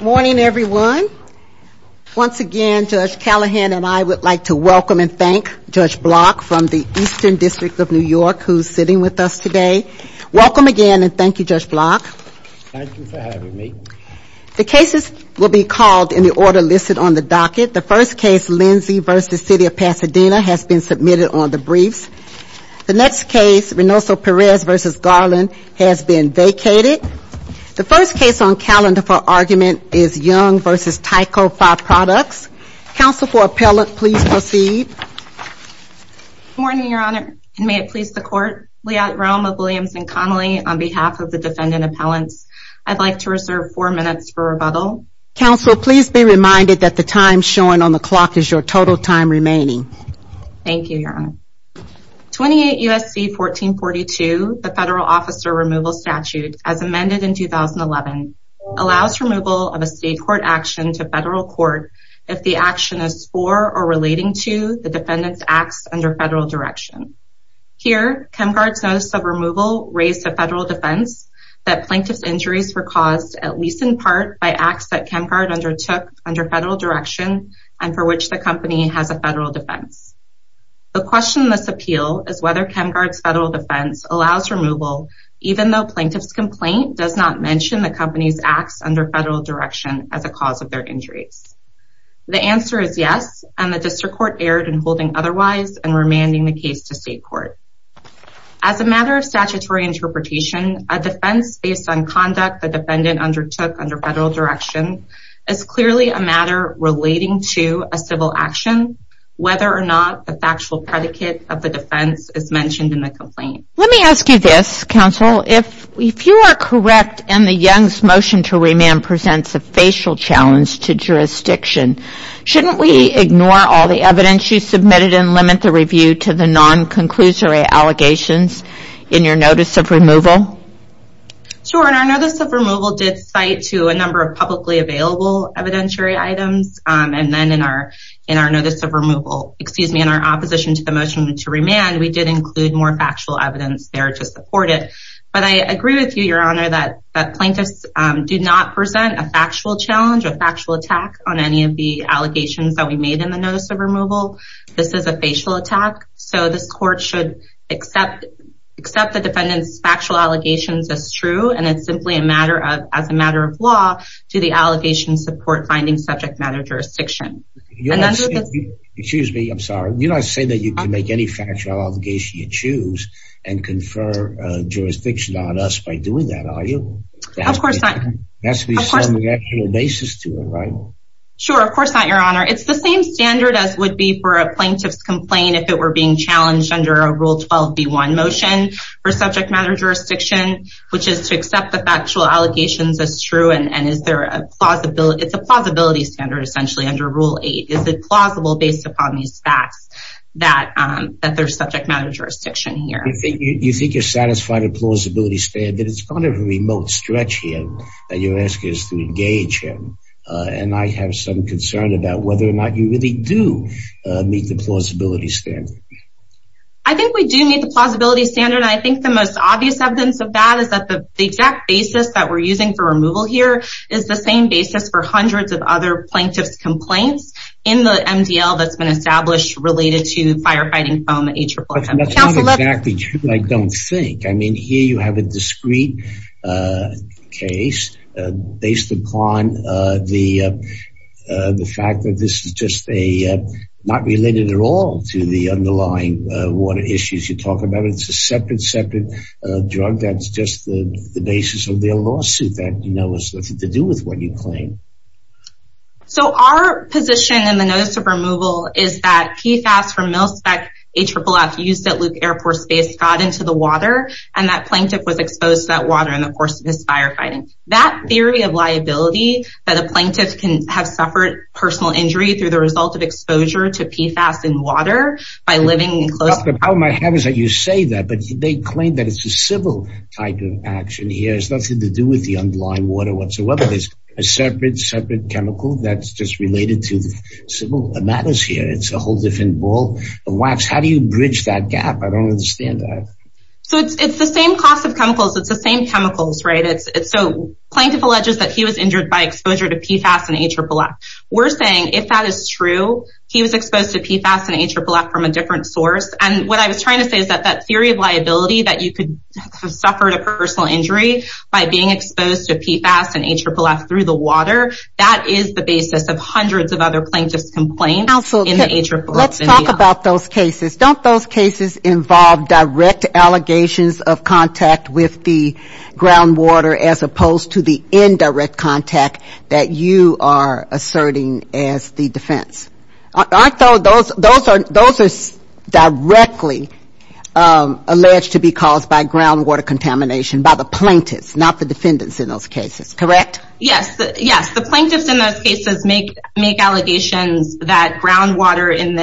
Morning, everyone. Once again, Judge Callahan and I would like to welcome and thank Judge Block from the Eastern District of New York who is sitting with us today. Welcome again and thank you, Judge Block. Thank you for having me. The cases will be called in the order listed on the docket. The first case, Lindsay v. City of Pasadena, has been submitted on the briefs. The next case, Reynoso Perez v. Garland, has been vacated. The first case on calendar for argument is Young v. Tyco 5 Products. Counsel for Appellant, please proceed. Good morning, Your Honor, and may it please the Court. Liat Roma, Williams, and Connelly, on behalf of the Defendant Appellants, I'd like to reserve four minutes for rebuttal. Counsel, please be reminded that the time shown on the clock is your total time remaining. Thank you, Your Honor. 28 U.S.C. 1442, the Federal Officer Removal Statute, as amended in 2011, allows removal of a state court action to federal court if the action is for or relating to the defendant's acts under federal direction. Here, ChemGuard's notice of removal raised to federal defense that plaintiff's injuries were caused, at least in part, by acts that ChemGuard undertook under federal direction and for which the company has a federal defense. The question in this appeal is whether ChemGuard's federal defense allows removal even though plaintiff's complaint does not mention the company's acts under federal direction as a cause of their injuries. The answer is yes, and the District Court erred in holding otherwise and remanding the case to state court. As a matter of statutory interpretation, a defense based on conduct the defendant undertook under federal direction is clearly a matter relating to a civil action, whether or not the factual predicate of the defense is mentioned in the complaint. Let me ask you this, Counsel, if you are correct and the Young's motion to remand presents a facial challenge to jurisdiction, shouldn't we ignore all the evidence you submitted and limit the review to the non-conclusory allegations in your notice of removal? Sure, and our notice of removal did cite to a number of publicly available evidentiary items, and then in our notice of removal, excuse me, in our opposition to the motion to remand, we did include more factual evidence there to support it. But I agree with you, Your Honor, that plaintiffs do not present a factual challenge or factual attack on any of the allegations that we made in the notice of removal. This is a facial attack, so this court should accept the defendant's factual allegations as true, and it's simply a matter of, as a matter of law, do the allegations support finding subject matter jurisdiction. Excuse me, I'm sorry, you're not saying that you can make any factual allegation you choose and confer jurisdiction on us by doing that, are you? Of course not. That's the subject matter basis to it, right? Sure, of course not, Your Honor. It's the same standard as would be for a plaintiff's complaint if it were being challenged under a Rule 12b-1 motion for subject matter jurisdiction, which is to accept the factual allegations as true, and it's a plausibility standard essentially under Rule 8. Is it plausible based upon these facts that there's subject matter jurisdiction here? You think you're satisfied with the plausibility standard, but it's kind of a remote stretch here that you're asking us to engage in, and I have some concern about whether or not you really do meet the plausibility standard. I think we do meet the plausibility standard, and I think the most obvious evidence of that is that the exact basis that we're using for removal here is the same basis for hundreds of other plaintiffs' complaints in the MDL that's been established related to firefighting foam H-117. That's not exactly true, I don't think. I mean, here you have a discrete case based upon the fact that this is just not related at all to the underlying water issues you talk about. It's a separate, separate drug that's just the basis of their lawsuit that has nothing to do with what you claim. So our position in the notice of removal is that PFAS from MilSpec AFFF used at Luke Air Force Base got into the water, and that plaintiff was exposed to that water in the course of his firefighting. That theory of liability that a plaintiff can have suffered personal injury through the result of exposure to PFAS in water by living in close... That's just related to civil matters here. It's a whole different ball of wax. How do you bridge that gap? I don't understand that. So it's the same class of chemicals. It's the same chemicals, right? So plaintiff alleges that he was injured by exposure to PFAS and AFFF. We're saying if that is true, he was exposed to PFAS and AFFF from a different source. And what I was trying to say is that that theory of liability that you could have suffered a personal injury by being exposed to PFAS and AFFF through the water, that is the basis of hundreds of other plaintiffs' complaints in the AFFF area. Let's talk about those cases. Don't those cases involve direct allegations of contact with the groundwater as opposed to the indirect contact that you are asserting as the defense? Those are directly alleged to be caused by groundwater contamination by the plaintiffs, not the defendants in those cases, correct? Yes. The plaintiffs in those cases make allegations that groundwater in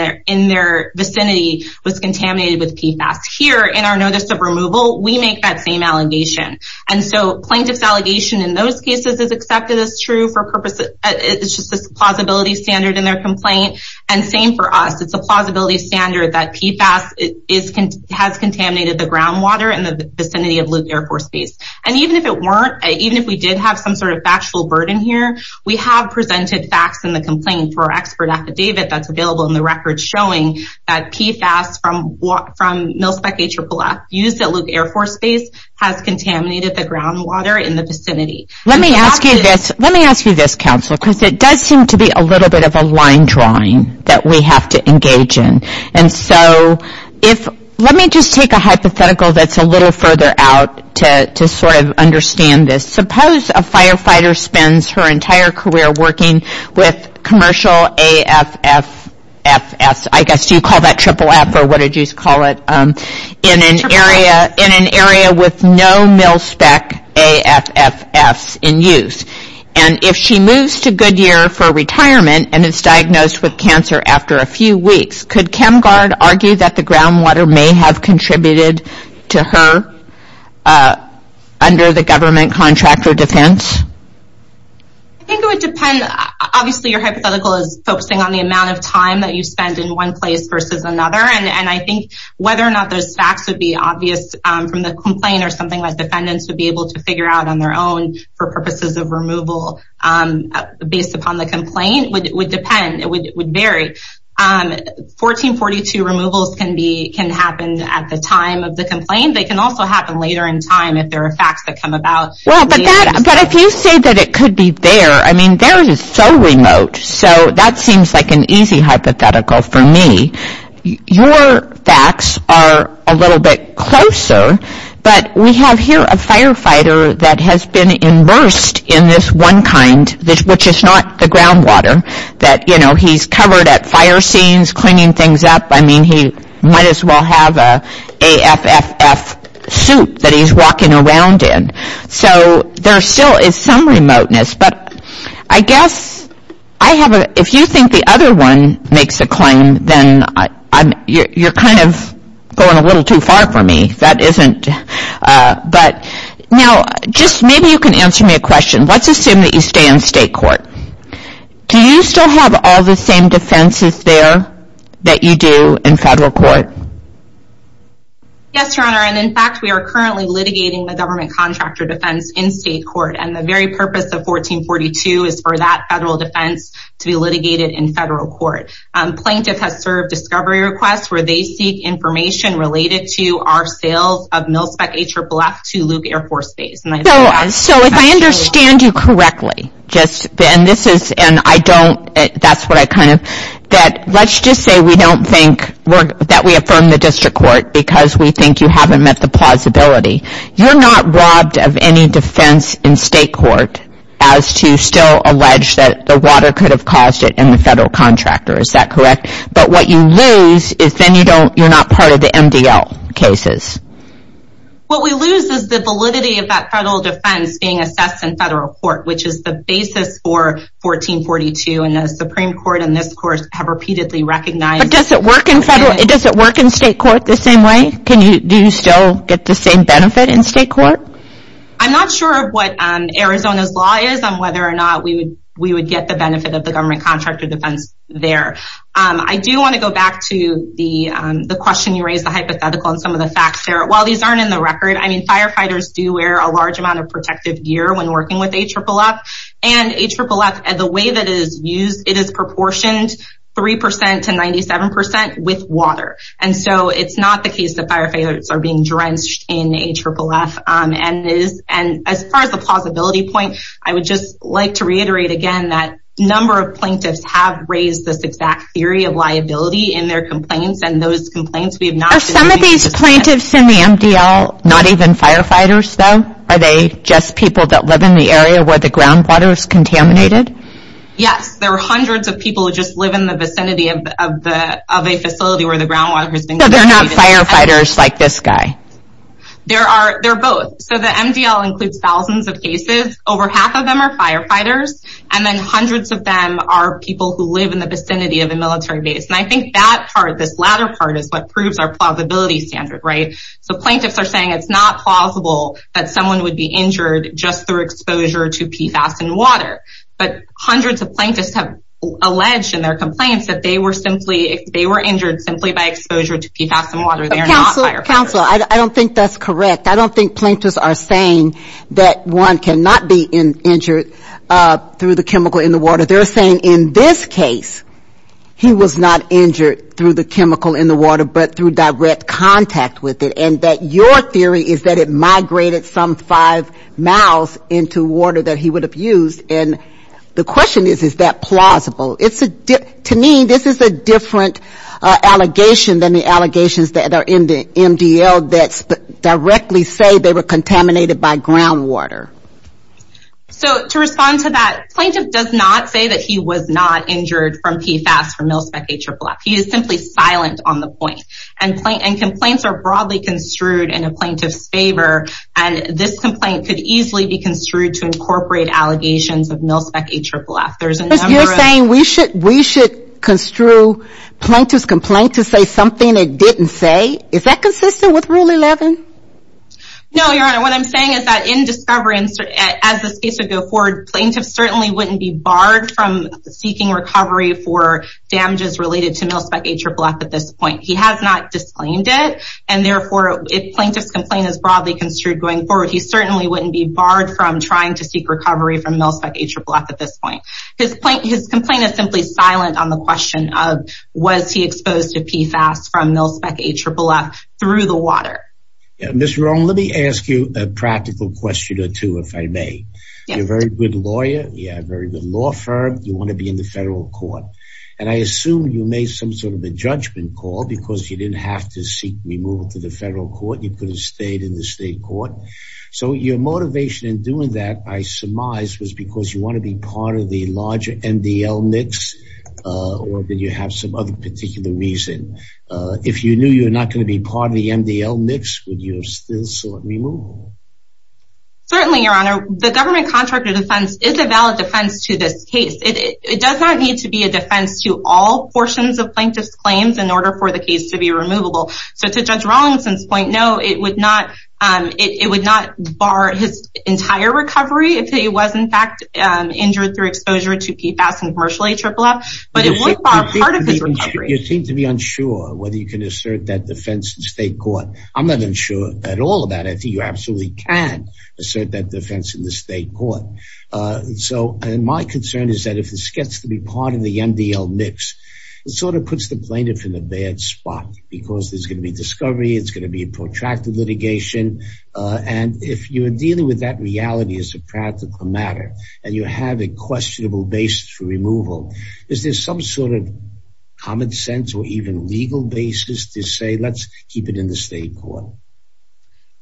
their vicinity was contaminated with PFAS. Here in our notice of removal, we make that same allegation. And so plaintiff's allegation in those cases is accepted as true for purposes... It's just a plausibility standard in their complaint. And same for us. It's a plausibility standard that PFAS has contaminated the groundwater in the vicinity of Luke Air Force Base. And even if it weren't, even if we did have some sort of factual burden here, we have presented facts in the complaint for our expert affidavit that's available in the record showing that PFAS from MilSpec AFFF used at Luke Air Force Base has contaminated the groundwater in the vicinity. Let me ask you this, counsel, because it does seem to be a little bit of a line drawing that we have to engage in. And so let me just take a hypothetical that's a little further out to sort of understand this. Suppose a firefighter spends her entire career working with commercial AFFFs, I guess you call that triple F or what did you call it, in an area with no MilSpec AFFFs in use. And if she moves to Goodyear for retirement and is diagnosed with cancer after a few weeks, could ChemGuard argue that the groundwater may have contributed to her under the government contract or defense? I think it would depend, obviously your hypothetical is focusing on the amount of time that you spend in one place versus another. And I think whether or not those facts would be obvious from the complaint or something that defendants would be able to figure out on their own for purposes of removal based upon the complaint would depend, it would vary. 1442 removals can happen at the time of the complaint. They can also happen later in time if there are facts that come about. Well, but if you say that it could be there, I mean there is so remote. So that seems like an easy hypothetical for me. Your facts are a little bit closer, but we have here a firefighter that has been immersed in this one kind, which is not the groundwater. That, you know, he's covered at fire scenes, cleaning things up. I mean, he might as well have an AFFF suit that he's walking around in. So there still is some remoteness, but I guess I have a, if you think the other one makes a claim, then you're kind of going a little too far for me. That isn't, but now just maybe you can answer me a question. Let's assume that you stay in state court. Do you still have all the same defenses there that you do in federal court? Yes, Your Honor. And in fact, we are currently litigating the government contractor defense in state court. And the very purpose of 1442 is for that federal defense to be litigated in federal court. Plaintiff has served discovery requests where they seek information related to our sales of MilSpec AFFF to Luke Air Force Base. So if I understand you correctly, just, and this is, and I don't, that's what I kind of, let's just say we don't think that we affirm the district court because we think you haven't met the plausibility. You're not robbed of any defense in state court as to still allege that the water could have caused it in the federal contractor. Is that correct? But what you lose is then you don't, you're not part of the MDL cases. What we lose is the validity of that federal defense being assessed in federal court, which is the basis for 1442 and the Supreme Court in this course have repeatedly recognized. Does it work in federal, does it work in state court the same way? Can you, do you still get the same benefit in state court? I'm not sure of what Arizona's law is on whether or not we would, we would get the benefit of the government contractor defense there. I do want to go back to the, the question you raised the hypothetical and some of the facts there. While these aren't in the record, I mean, firefighters do wear a large amount of protective gear when working with AFFF and AFFF the way that is used, it is proportioned 3% to 97% with water. And so it's not the case that firefighters are being drenched in AFFF and is, and as far as the plausibility point, I would just like to reiterate again that number of plaintiffs have raised this exact theory of liability in their complaints and those complaints we have not. Are some of these plaintiffs in the MDL not even firefighters though? Are they just people that live in the area where the groundwater is contaminated? Yes, there are hundreds of people who just live in the vicinity of the, of a facility where the groundwater has been contaminated. So they're not firefighters like this guy? There are, they're both. So the MDL includes thousands of cases, over half of them are firefighters and then hundreds of them are people who live in the vicinity of a military base. And I think that part, this latter part is what proves our plausibility standard, right? So plaintiffs are saying it's not plausible that someone would be injured just through exposure to PFAS in water. But hundreds of plaintiffs have alleged in their complaints that they were simply, they were injured simply by exposure to PFAS in water. Counsel, counsel, I don't think that's correct. I don't think plaintiffs are saying that one cannot be injured through the chemical in the water. They're saying in this case, he was not injured through the chemical in the water, but through direct contact with it. And that your theory is that it migrated some five miles into water that he would have used. And the question is, is that plausible? To me, this is a different allegation than the allegations that are in the MDL that directly say they were contaminated by groundwater. So to respond to that, plaintiff does not say that he was not injured from PFAS from MilSpec AFFF. He is simply silent on the point. And complaints are broadly construed in a plaintiff's favor. And this complaint could easily be construed to incorporate allegations of MilSpec AFFF. You're saying we should, we should construe plaintiff's complaint to say something it didn't say. Is that consistent with Rule 11? No, Your Honor. What I'm saying is that in discovery, as this case would go forward, plaintiff certainly wouldn't be barred from seeking recovery for damages related to MilSpec AFFF at this point. He has not disclaimed it. And therefore, if plaintiff's complaint is broadly construed going forward, he certainly wouldn't be barred from trying to seek recovery from MilSpec AFFF at this point. His complaint is simply silent on the question of was he exposed to PFAS from MilSpec AFFF through the water? Ms. Rohn, let me ask you a practical question or two, if I may. You're a very good lawyer. You have a very good law firm. You want to be in the federal court. And I assume you made some sort of a judgment call because you didn't have to seek removal to the federal court. You could have stayed in the state court. So your motivation in doing that, I surmise, was because you want to be part of the larger MDL mix or did you have some other particular reason? If you knew you were not going to be part of the MDL mix, would you have still sought removal? Certainly, Your Honor. The government contract of defense is a valid defense to this case. It does not need to be a defense to all portions of plaintiff's claims in order for the case to be removable. So to Judge Rawlingson's point, no, it would not bar his entire recovery if he was, in fact, injured through exposure to PFAS and commercial AFFF, but it would bar part of his recovery. You seem to be unsure whether you can assert that defense in state court. I'm not unsure at all about it. You absolutely can assert that defense in the state court. So my concern is that if this gets to be part of the MDL mix, it sort of puts the plaintiff in a bad spot because there's going to be discovery, it's going to be a protracted litigation. And if you're dealing with that reality as a practical matter and you have a questionable basis for removal, is there some sort of common sense or even legal basis to say, let's keep it in the state court?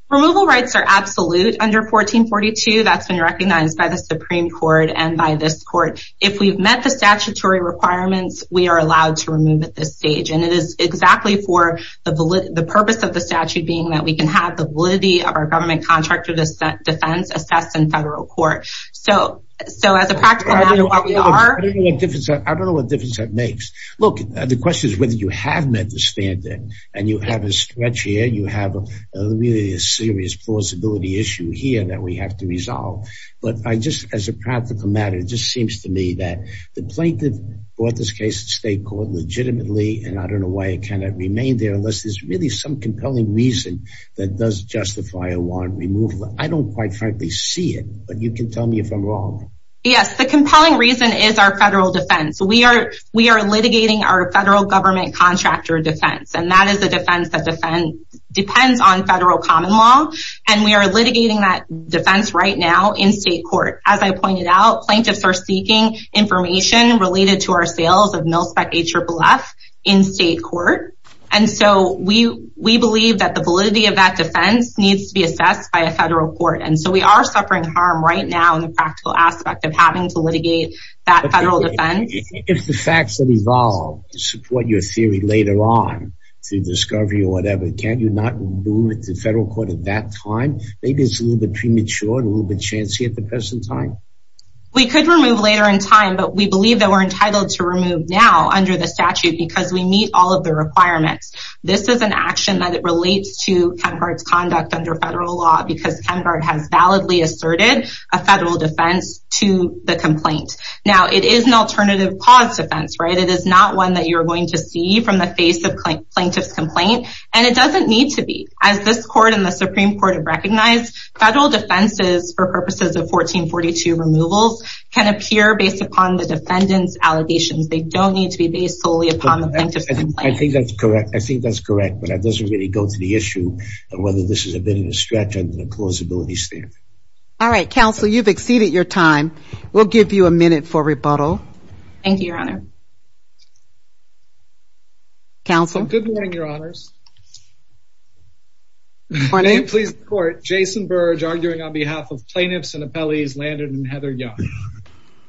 Removal rights are absolute under 1442. That's been recognized by the Supreme Court and by this court. If we've met the statutory requirements, we are allowed to remove at this stage. And it is exactly for the purpose of the statute being that we can have the validity of our government contract of defense assessed in federal court. I don't know what difference that makes. Look, the question is whether you have met the standard and you have a stretch here, you have a really serious plausibility issue here that we have to resolve. But just as a practical matter, it just seems to me that the plaintiff brought this case to state court legitimately, and I don't know why it kind of remained there unless there's really some compelling reason that does justify a warrant removal. I don't quite frankly see it, but you can tell me if I'm wrong. Yes, the compelling reason is our federal defense. We are litigating our federal government contractor defense, and that is a defense that depends on federal common law. And we are litigating that defense right now in state court. As I pointed out, plaintiffs are seeking information related to our sales of MilSpec AFFF in state court. And so we believe that the validity of that defense needs to be assessed by a federal court. And so we are suffering harm right now in the practical aspect of having to litigate that federal defense. If the facts have evolved to support your theory later on through discovery or whatever, can you not remove it to federal court at that time? Maybe it's a little bit premature and a little bit chancy at the present time. We could remove later in time, but we believe that we're entitled to remove now under the statute because we meet all of the requirements. This is an action that relates to Kenhardt's conduct under federal law because Kenhardt has validly asserted a federal defense to the complaint. Now, it is an alternative cause defense, right? It is not one that you're going to see from the face of plaintiff's complaint, and it doesn't need to be. As this court and the Supreme Court have recognized, federal defenses for purposes of 1442 removals can appear based upon the defendant's allegations. They don't need to be based solely upon the plaintiff's complaint. I think that's correct. I think that's correct, but that doesn't really go to the issue of whether this is a bit of a stretch under the plausibility standard. All right, Counsel, you've exceeded your time. We'll give you a minute for rebuttal. Thank you, Your Honor. Counsel. Good morning, Your Honors. Good morning. I am pleased to report Jason Burge arguing on behalf of plaintiffs and appellees Landon and Heather Young.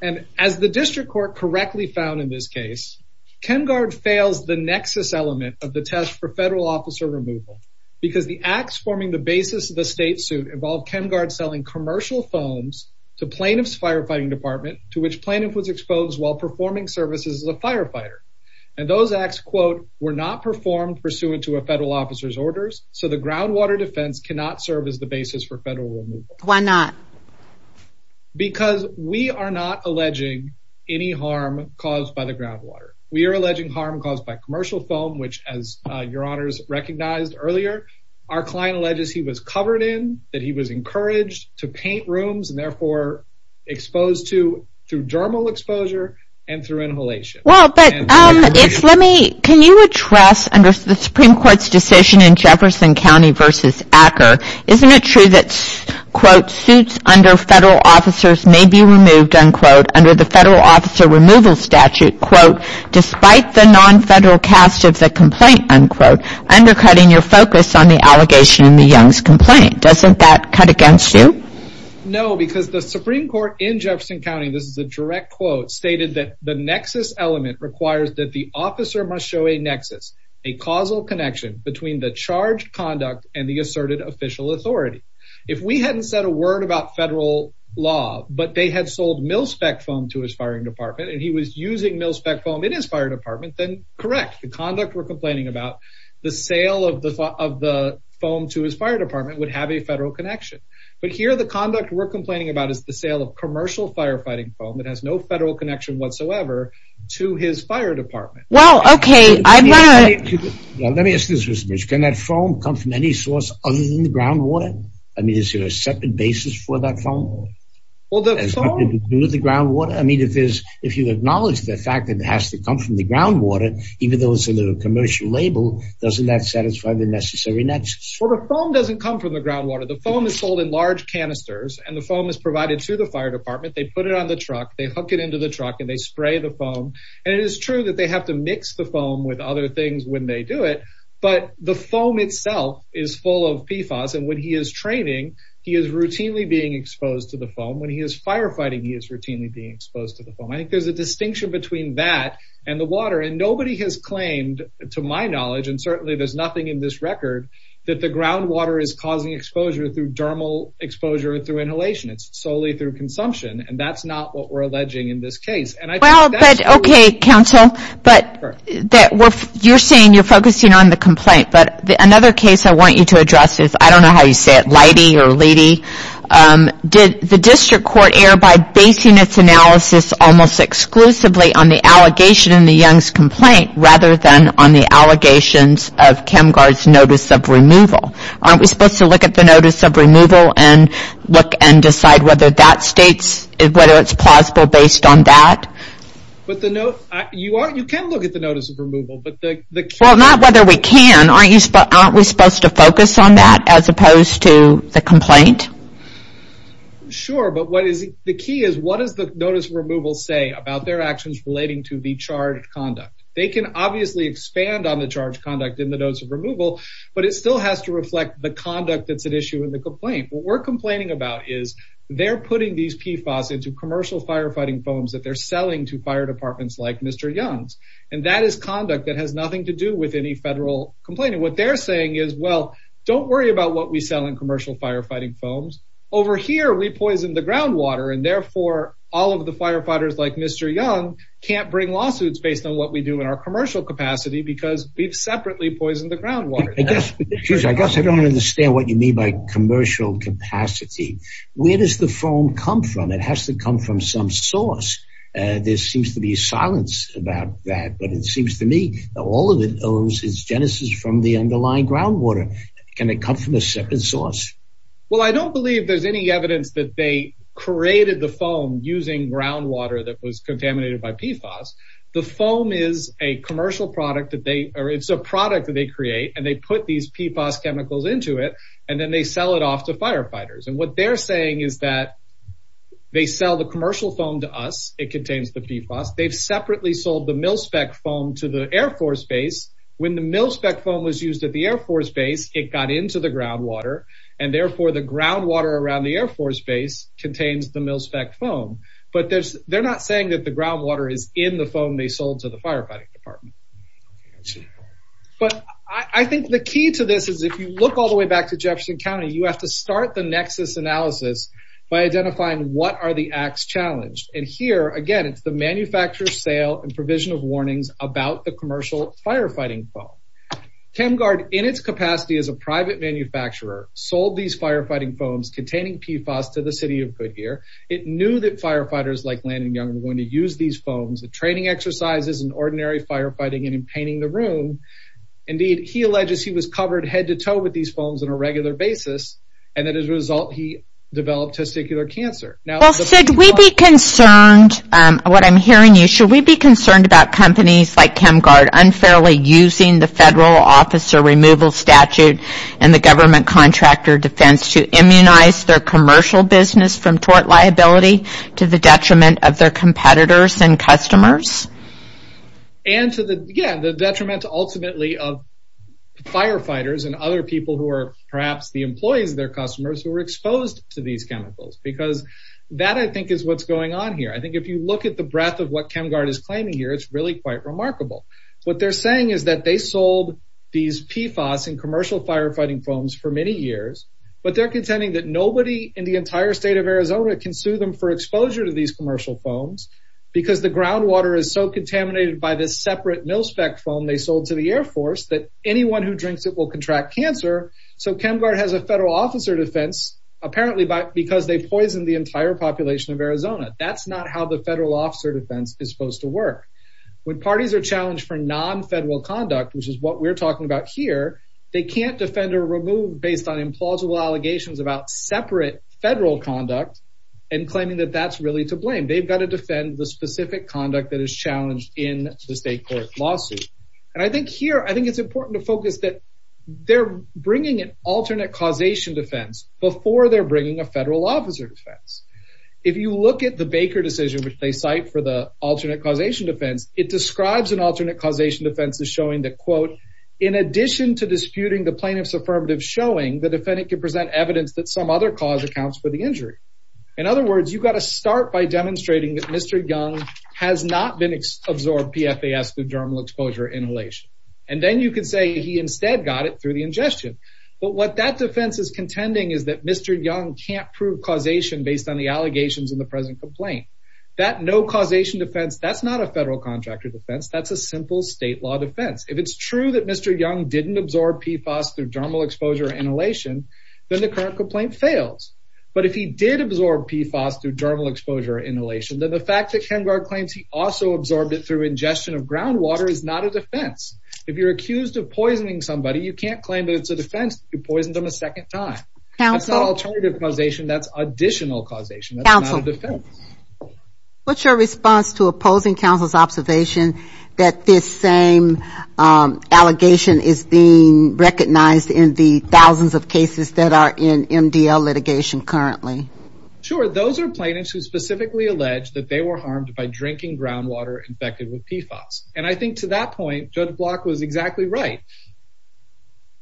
And as the district court correctly found in this case, Kenhardt fails the nexus element of the test for federal officer removal because the acts forming the basis of the state suit involved Kenhardt selling commercial phones to plaintiff's firefighting department, to which plaintiff was exposed while performing services as a firefighter. And those acts, quote, were not performed pursuant to a federal officer's orders. So the groundwater defense cannot serve as the basis for federal removal. Why not? Because we are not alleging any harm caused by the groundwater. We are alleging harm caused by commercial foam, which as Your Honors recognized earlier, our client alleges he was covered in, that he was encouraged to paint rooms and therefore exposed to through dermal exposure and through inhalation. Well, but if let me, can you address under the Supreme Court's decision in Jefferson County versus Acker? Isn't it true that, quote, suits under federal officers may be removed, unquote, under the federal officer removal statute, quote, despite the non-federal cast of the complaint, unquote, undercutting your focus on the allegation in the Young's complaint? Doesn't that cut against you? No, because the Supreme Court in Jefferson County, this is a direct quote, stated that the nexus element requires that the officer must show a nexus, a causal connection between the charged conduct and the asserted official authority. If we hadn't said a word about federal law, but they had sold mil-spec foam to his firing department and he was using mil-spec foam in his fire department, then correct. The conduct we're complaining about, the sale of the foam to his fire department would have a federal connection. But here, the conduct we're complaining about is the sale of commercial firefighting foam. It has no federal connection whatsoever to his fire department. Well, OK, I'm not. Let me ask this question. Can that foam come from any source other than the groundwater? I mean, is there a separate basis for that foam? Well, the ground water, I mean, if there's if you acknowledge the fact that it has to come from the groundwater, even though it's a little commercial label, doesn't that satisfy the necessary nexus? Well, the foam doesn't come from the groundwater. The foam is sold in large canisters and the foam is provided to the fire department. They put it on the truck, they hook it into the truck and they spray the foam. And it is true that they have to mix the foam with other things when they do it. But the foam itself is full of PFAS. And when he is training, he is routinely being exposed to the foam. When he is firefighting, he is routinely being exposed to the foam. I think there's a distinction between that and the water. And nobody has claimed, to my knowledge, and certainly there's nothing in this record, that the groundwater is causing exposure through dermal exposure or through inhalation. It's solely through consumption. And that's not what we're alleging in this case. OK, counsel, but you're saying you're focusing on the complaint. But another case I want you to address is, I don't know how you say it, Leidy or Leedy. Did the district court err by basing its analysis almost exclusively on the allegation in the Young's complaint rather than on the allegations of ChemGuard's notice of removal? Aren't we supposed to look at the notice of removal and decide whether it's plausible based on that? You can look at the notice of removal. Well, not whether we can. Aren't we supposed to focus on that as opposed to the complaint? Sure, but the key is, what does the notice of removal say about their actions relating to the charge of conduct? They can obviously expand on the charge of conduct in the notice of removal, but it still has to reflect the conduct that's at issue in the complaint. What we're complaining about is, they're putting these PFAS into commercial firefighting foams that they're selling to fire departments like Mr. Young's. And that is conduct that has nothing to do with any federal complaint. And what they're saying is, well, don't worry about what we sell in commercial firefighting foams. Over here, we poisoned the groundwater. And therefore, all of the firefighters like Mr. Young can't bring lawsuits based on what we do in our commercial capacity because we've separately poisoned the groundwater. I guess I don't understand what you mean by commercial capacity. Where does the foam come from? It has to come from some source. There seems to be silence about that, but it seems to me that all of it owns its genesis from the underlying groundwater. Can it come from a separate source? Well, I don't believe there's any evidence that they created the foam using groundwater that was contaminated by PFAS. The foam is a commercial product that they – or it's a product that they create, and they put these PFAS chemicals into it, and then they sell it off to firefighters. And what they're saying is that they sell the commercial foam to us. It contains the PFAS. They've separately sold the mil-spec foam to the Air Force Base. When the mil-spec foam was used at the Air Force Base, it got into the groundwater. And therefore, the groundwater around the Air Force Base contains the mil-spec foam. But they're not saying that the groundwater is in the foam they sold to the firefighting department. But I think the key to this is if you look all the way back to Jefferson County, you have to start the nexus analysis by identifying what are the acts challenged. And here, again, it's the manufacturer's sale and provision of warnings about the commercial firefighting foam. ChemGuard, in its capacity as a private manufacturer, sold these firefighting foams containing PFAS to the city of Goodyear. It knew that firefighters like Landon Young were going to use these foams. The training exercises in ordinary firefighting and in painting the room. Indeed, he alleges he was covered head-to-toe with these foams on a regular basis. And as a result, he developed testicular cancer. Should we be concerned about companies like ChemGuard unfairly using the federal officer removal statute and the government contractor defense to immunize their commercial business from tort liability to the detriment of their competitors and customers? And to the detriment, ultimately, of firefighters and other people who are perhaps the employees of their customers who are exposed to these chemicals. Because that, I think, is what's going on here. I think if you look at the breadth of what ChemGuard is claiming here, it's really quite remarkable. What they're saying is that they sold these PFAS and commercial firefighting foams for many years. But they're contending that nobody in the entire state of Arizona can sue them for exposure to these commercial foams because the groundwater is so contaminated by this separate mil-spec foam they sold to the Air Force that anyone who drinks it will contract cancer. So ChemGuard has a federal officer defense apparently because they poisoned the entire population of Arizona. That's not how the federal officer defense is supposed to work. When parties are challenged for non-federal conduct, which is what we're talking about here, they can't defend or remove based on implausible allegations about separate federal conduct and claiming that that's really to blame. They've got to defend the specific conduct that is challenged in the state court lawsuit. And I think here, I think it's important to focus that they're bringing an alternate causation defense before they're bringing a federal officer defense. If you look at the Baker decision, which they cite for the alternate causation defense, it describes an alternate causation defense as showing that, quote, in addition to disputing the plaintiff's affirmative showing, the defendant can present evidence that some other cause accounts for the injury. In other words, you've got to start by demonstrating that Mr. Young has not been absorbed PFAS through dermal exposure inhalation. And then you can say he instead got it through the ingestion. But what that defense is contending is that Mr. Young can't prove causation based on the allegations in the present complaint. That no causation defense, that's not a federal contractor defense. That's a simple state law defense. If it's true that Mr. Young didn't absorb PFAS through dermal exposure inhalation, then the current complaint fails. But if he did absorb PFAS through dermal exposure inhalation, then the fact that Kengard claims he also absorbed it through ingestion of groundwater is not a defense. If you're accused of poisoning somebody, you can't claim that it's a defense if you poisoned them a second time. That's not alternative causation. That's additional causation. That's not a defense. What's your response to opposing counsel's observation that this same allegation is being recognized in the thousands of cases that are in MDL litigation currently? Sure, those are plaintiffs who specifically allege that they were harmed by drinking groundwater infected with PFAS. And I think to that point, Judge Block was exactly right.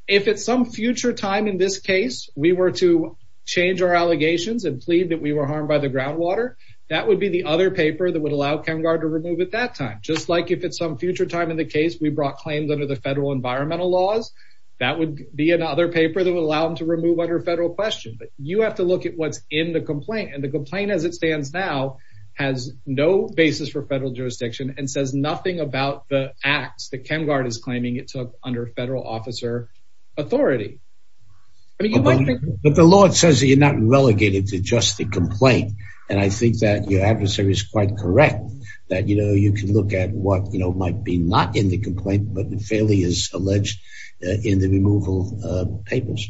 If at some future time in this case we were to change our allegations and plead that we were harmed by the groundwater, that would be the other paper that would allow Kengard to remove at that time. Just like if at some future time in the case we brought claims under the federal environmental laws, that would be another paper that would allow them to remove under federal question. But you have to look at what's in the complaint. And the complaint as it stands now has no basis for federal jurisdiction and says nothing about the acts that Kengard is claiming it took under federal officer authority. But the law says that you're not relegated to just the complaint. And I think that your adversary is quite correct that you can look at what might be not in the complaint, but the failures alleged in the removal papers.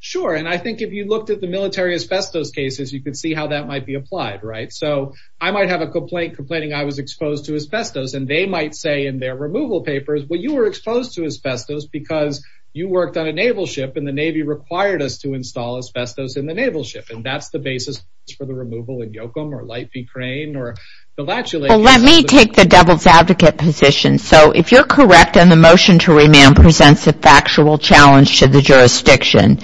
Sure. And I think if you looked at the military asbestos cases, you could see how that might be applied. So I might have a complaint complaining I was exposed to asbestos. And they might say in their removal papers, well, you were exposed to asbestos because you worked on a naval ship and the Navy required us to install asbestos in the naval ship. And that's the basis for the removal in Yoakum or Light V. Crane. Well, let me take the devil's advocate position. So if you're correct and the motion to remand presents a factual challenge to the jurisdiction,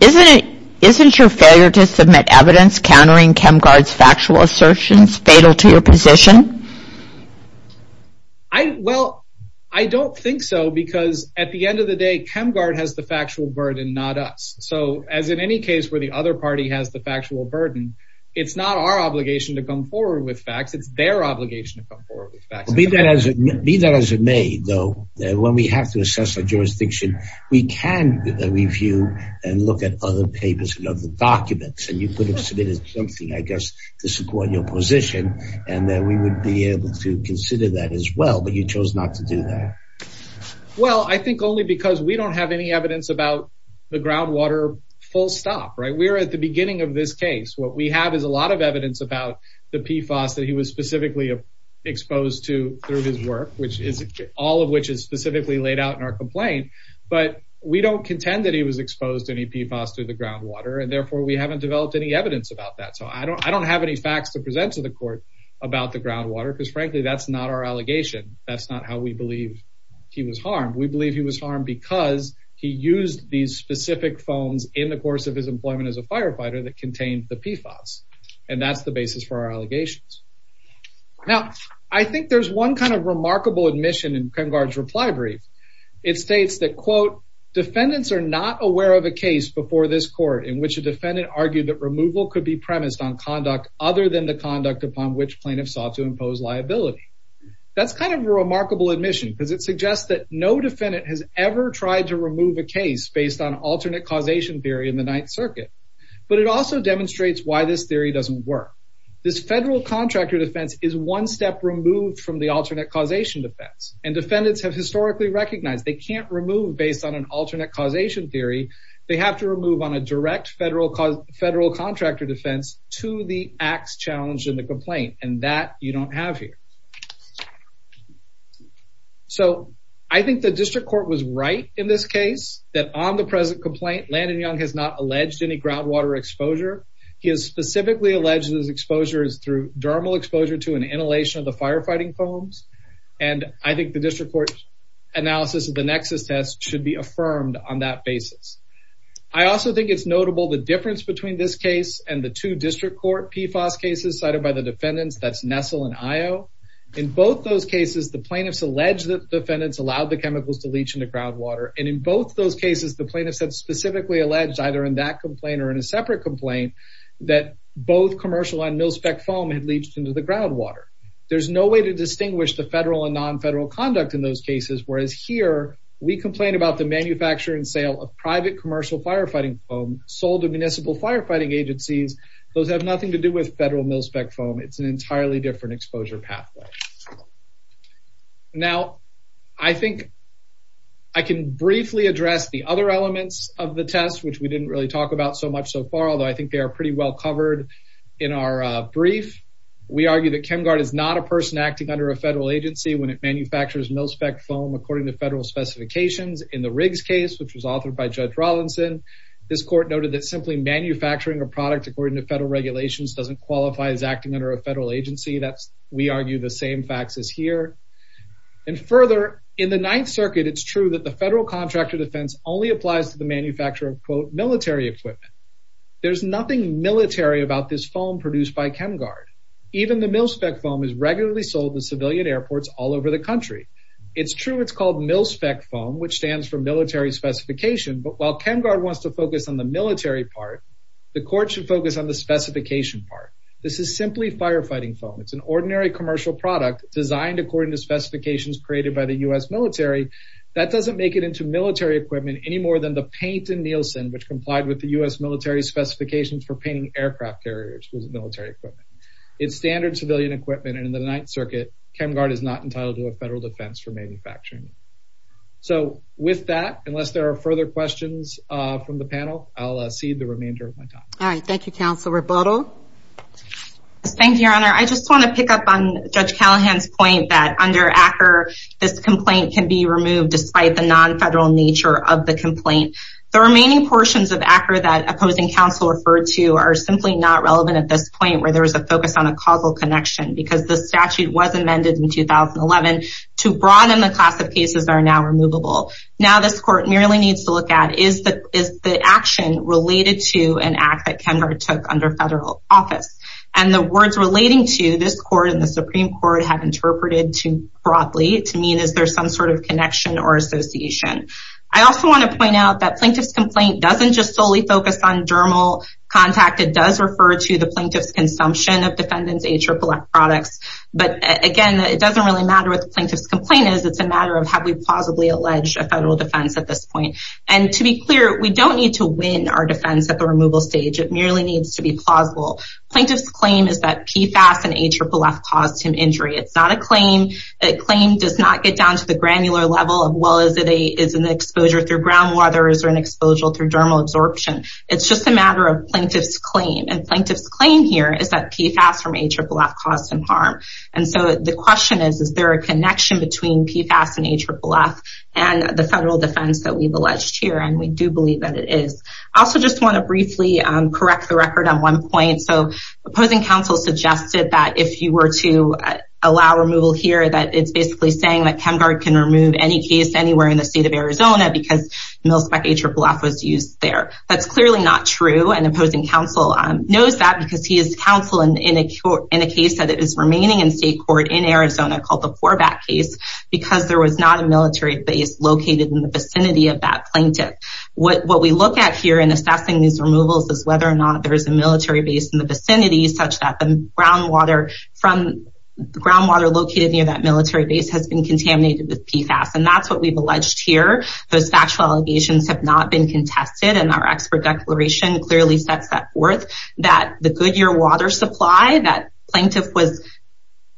isn't your failure to submit evidence countering Kengard's factual assertions fatal to your position? Well, I don't think so, because at the end of the day, Kengard has the factual burden, not us. So as in any case where the other party has the factual burden, it's not our obligation to come forward with facts. It's their obligation to come forward with facts. Be that as it may, though, when we have to assess a jurisdiction, we can review and look at other papers and other documents. And you could have submitted something, I guess, to support your position, and then we would be able to consider that as well. But you chose not to do that. Well, I think only because we don't have any evidence about the groundwater full stop. We're at the beginning of this case. What we have is a lot of evidence about the PFAS that he was specifically exposed to through his work, all of which is specifically laid out in our complaint. But we don't contend that he was exposed to any PFAS through the groundwater, and therefore we haven't developed any evidence about that. So I don't have any facts to present to the court about the groundwater, because frankly, that's not our allegation. We believe he was harmed because he used these specific phones in the course of his employment as a firefighter that contained the PFAS. And that's the basis for our allegations. Now, I think there's one kind of remarkable admission in Kengard's reply brief. It states that, quote, That's kind of a remarkable admission because it suggests that no defendant has ever tried to remove a case based on alternate causation theory in the Ninth Circuit. But it also demonstrates why this theory doesn't work. This federal contractor defense is one step removed from the alternate causation defense, and defendants have historically recognized they can't remove based on an alternate causation theory. They have to remove on a direct federal contractor defense to the acts challenged in the complaint, and that you don't have here. So I think the district court was right in this case that on the present complaint, Landon Young has not alleged any groundwater exposure. He has specifically alleged his exposure is through dermal exposure to an inhalation of the firefighting foams. And I think the district court analysis of the Nexus test should be affirmed on that basis. I also think it's notable the difference between this case and the two district court PFAS cases cited by the defendants. That's Nestle and IO. In both those cases, the plaintiffs allege that defendants allowed the chemicals to leach into groundwater. And in both those cases, the plaintiffs had specifically alleged either in that complaint or in a separate complaint that both commercial and mil-spec foam had leached into the groundwater. There's no way to distinguish the federal and non-federal conduct in those cases, whereas here, we complain about the manufacture and sale of private commercial firefighting foam sold to municipal firefighting agencies. Those have nothing to do with federal mil-spec foam. It's an entirely different exposure pathway. Now, I think I can briefly address the other elements of the test, which we didn't really talk about so much so far, although I think they are pretty well covered in our brief. We argue that ChemGuard is not a person acting under a federal agency when it manufactures mil-spec foam according to federal specifications. In the Riggs case, which was authored by Judge Rawlinson, this court noted that simply manufacturing a product according to federal regulations doesn't qualify as acting under a federal agency. That's, we argue, the same facts as here. And further, in the Ninth Circuit, it's true that the federal contractor defense only applies to the manufacture of, quote, military equipment. There's nothing military about this foam produced by ChemGuard. Even the mil-spec foam is regularly sold in civilian airports all over the country. It's true it's called mil-spec foam, which stands for military specification, but while ChemGuard wants to focus on the military part, the court should focus on the specification part. This is simply firefighting foam. It's an ordinary commercial product designed according to specifications created by the U.S. military. That doesn't make it into military equipment any more than the paint in Nielsen, which complied with the U.S. military specifications for painting aircraft carriers with military equipment. It's standard civilian equipment, and in the Ninth Circuit, ChemGuard is not entitled to a federal defense for manufacturing it. So with that, unless there are further questions from the panel, I'll cede the remainder of my time. All right. Thank you, Counsel Rebuttal. Thank you, Your Honor. I just want to pick up on Judge Callahan's point that under ACCR, this complaint can be removed despite the non-federal nature of the complaint. The remaining portions of ACCR that opposing counsel referred to are simply not relevant at this point where there is a focus on a causal connection because the statute was amended in 2011 to broaden the class of cases that are now removable. Now this court merely needs to look at is the action related to an act that ChemGuard took under federal office. And the words relating to this court and the Supreme Court have interpreted too broadly to mean is there some sort of connection or association. I also want to point out that plaintiff's complaint doesn't just solely focus on dermal contact. It does refer to the plaintiff's consumption of defendant's AAA products. But again, it doesn't really matter what the plaintiff's complaint is. It's a matter of have we plausibly alleged a federal defense at this point. And to be clear, we don't need to win our defense at the removal stage. It merely needs to be plausible. Plaintiff's claim is that PFAS and AFFF caused him injury. It's not a claim. A claim does not get down to the granular level as well as it is an exposure through groundwater or an exposure through dermal absorption. It's just a matter of plaintiff's claim. And plaintiff's claim here is that PFAS from AFFF caused him harm. And so the question is, is there a connection between PFAS and AFFF and the federal defense that we've alleged here? And we do believe that it is. I also just want to briefly correct the record on one point. So opposing counsel suggested that if you were to allow removal here, that it's basically saying that ChemGuard can remove any case anywhere in the state of Arizona because MilSpec AFFF was used there. That's clearly not true. And opposing counsel knows that because he is counsel in a case that is remaining in state court in Arizona called the Forbat case because there was not a military base located in the vicinity of that plaintiff. What we look at here in assessing these removals is whether or not there is a military base in the vicinity such that the groundwater located near that military base has been contaminated with PFAS. And that's what we've alleged here. Those factual allegations have not been contested. And our expert declaration clearly sets that forth. That the Goodyear water supply that plaintiff was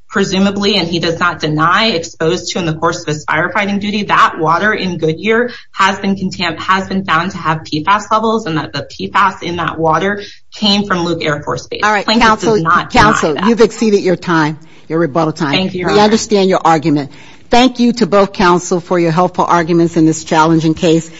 presumably and he does not deny exposed to in the course of his firefighting duty, that water in Goodyear has been found to have PFAS levels. And that the PFAS in that water came from Luke Air Force Base. All right. Counsel, you've exceeded your time, your rebuttal time. We understand your argument. Thank you to both counsel for your helpful arguments in this challenging case.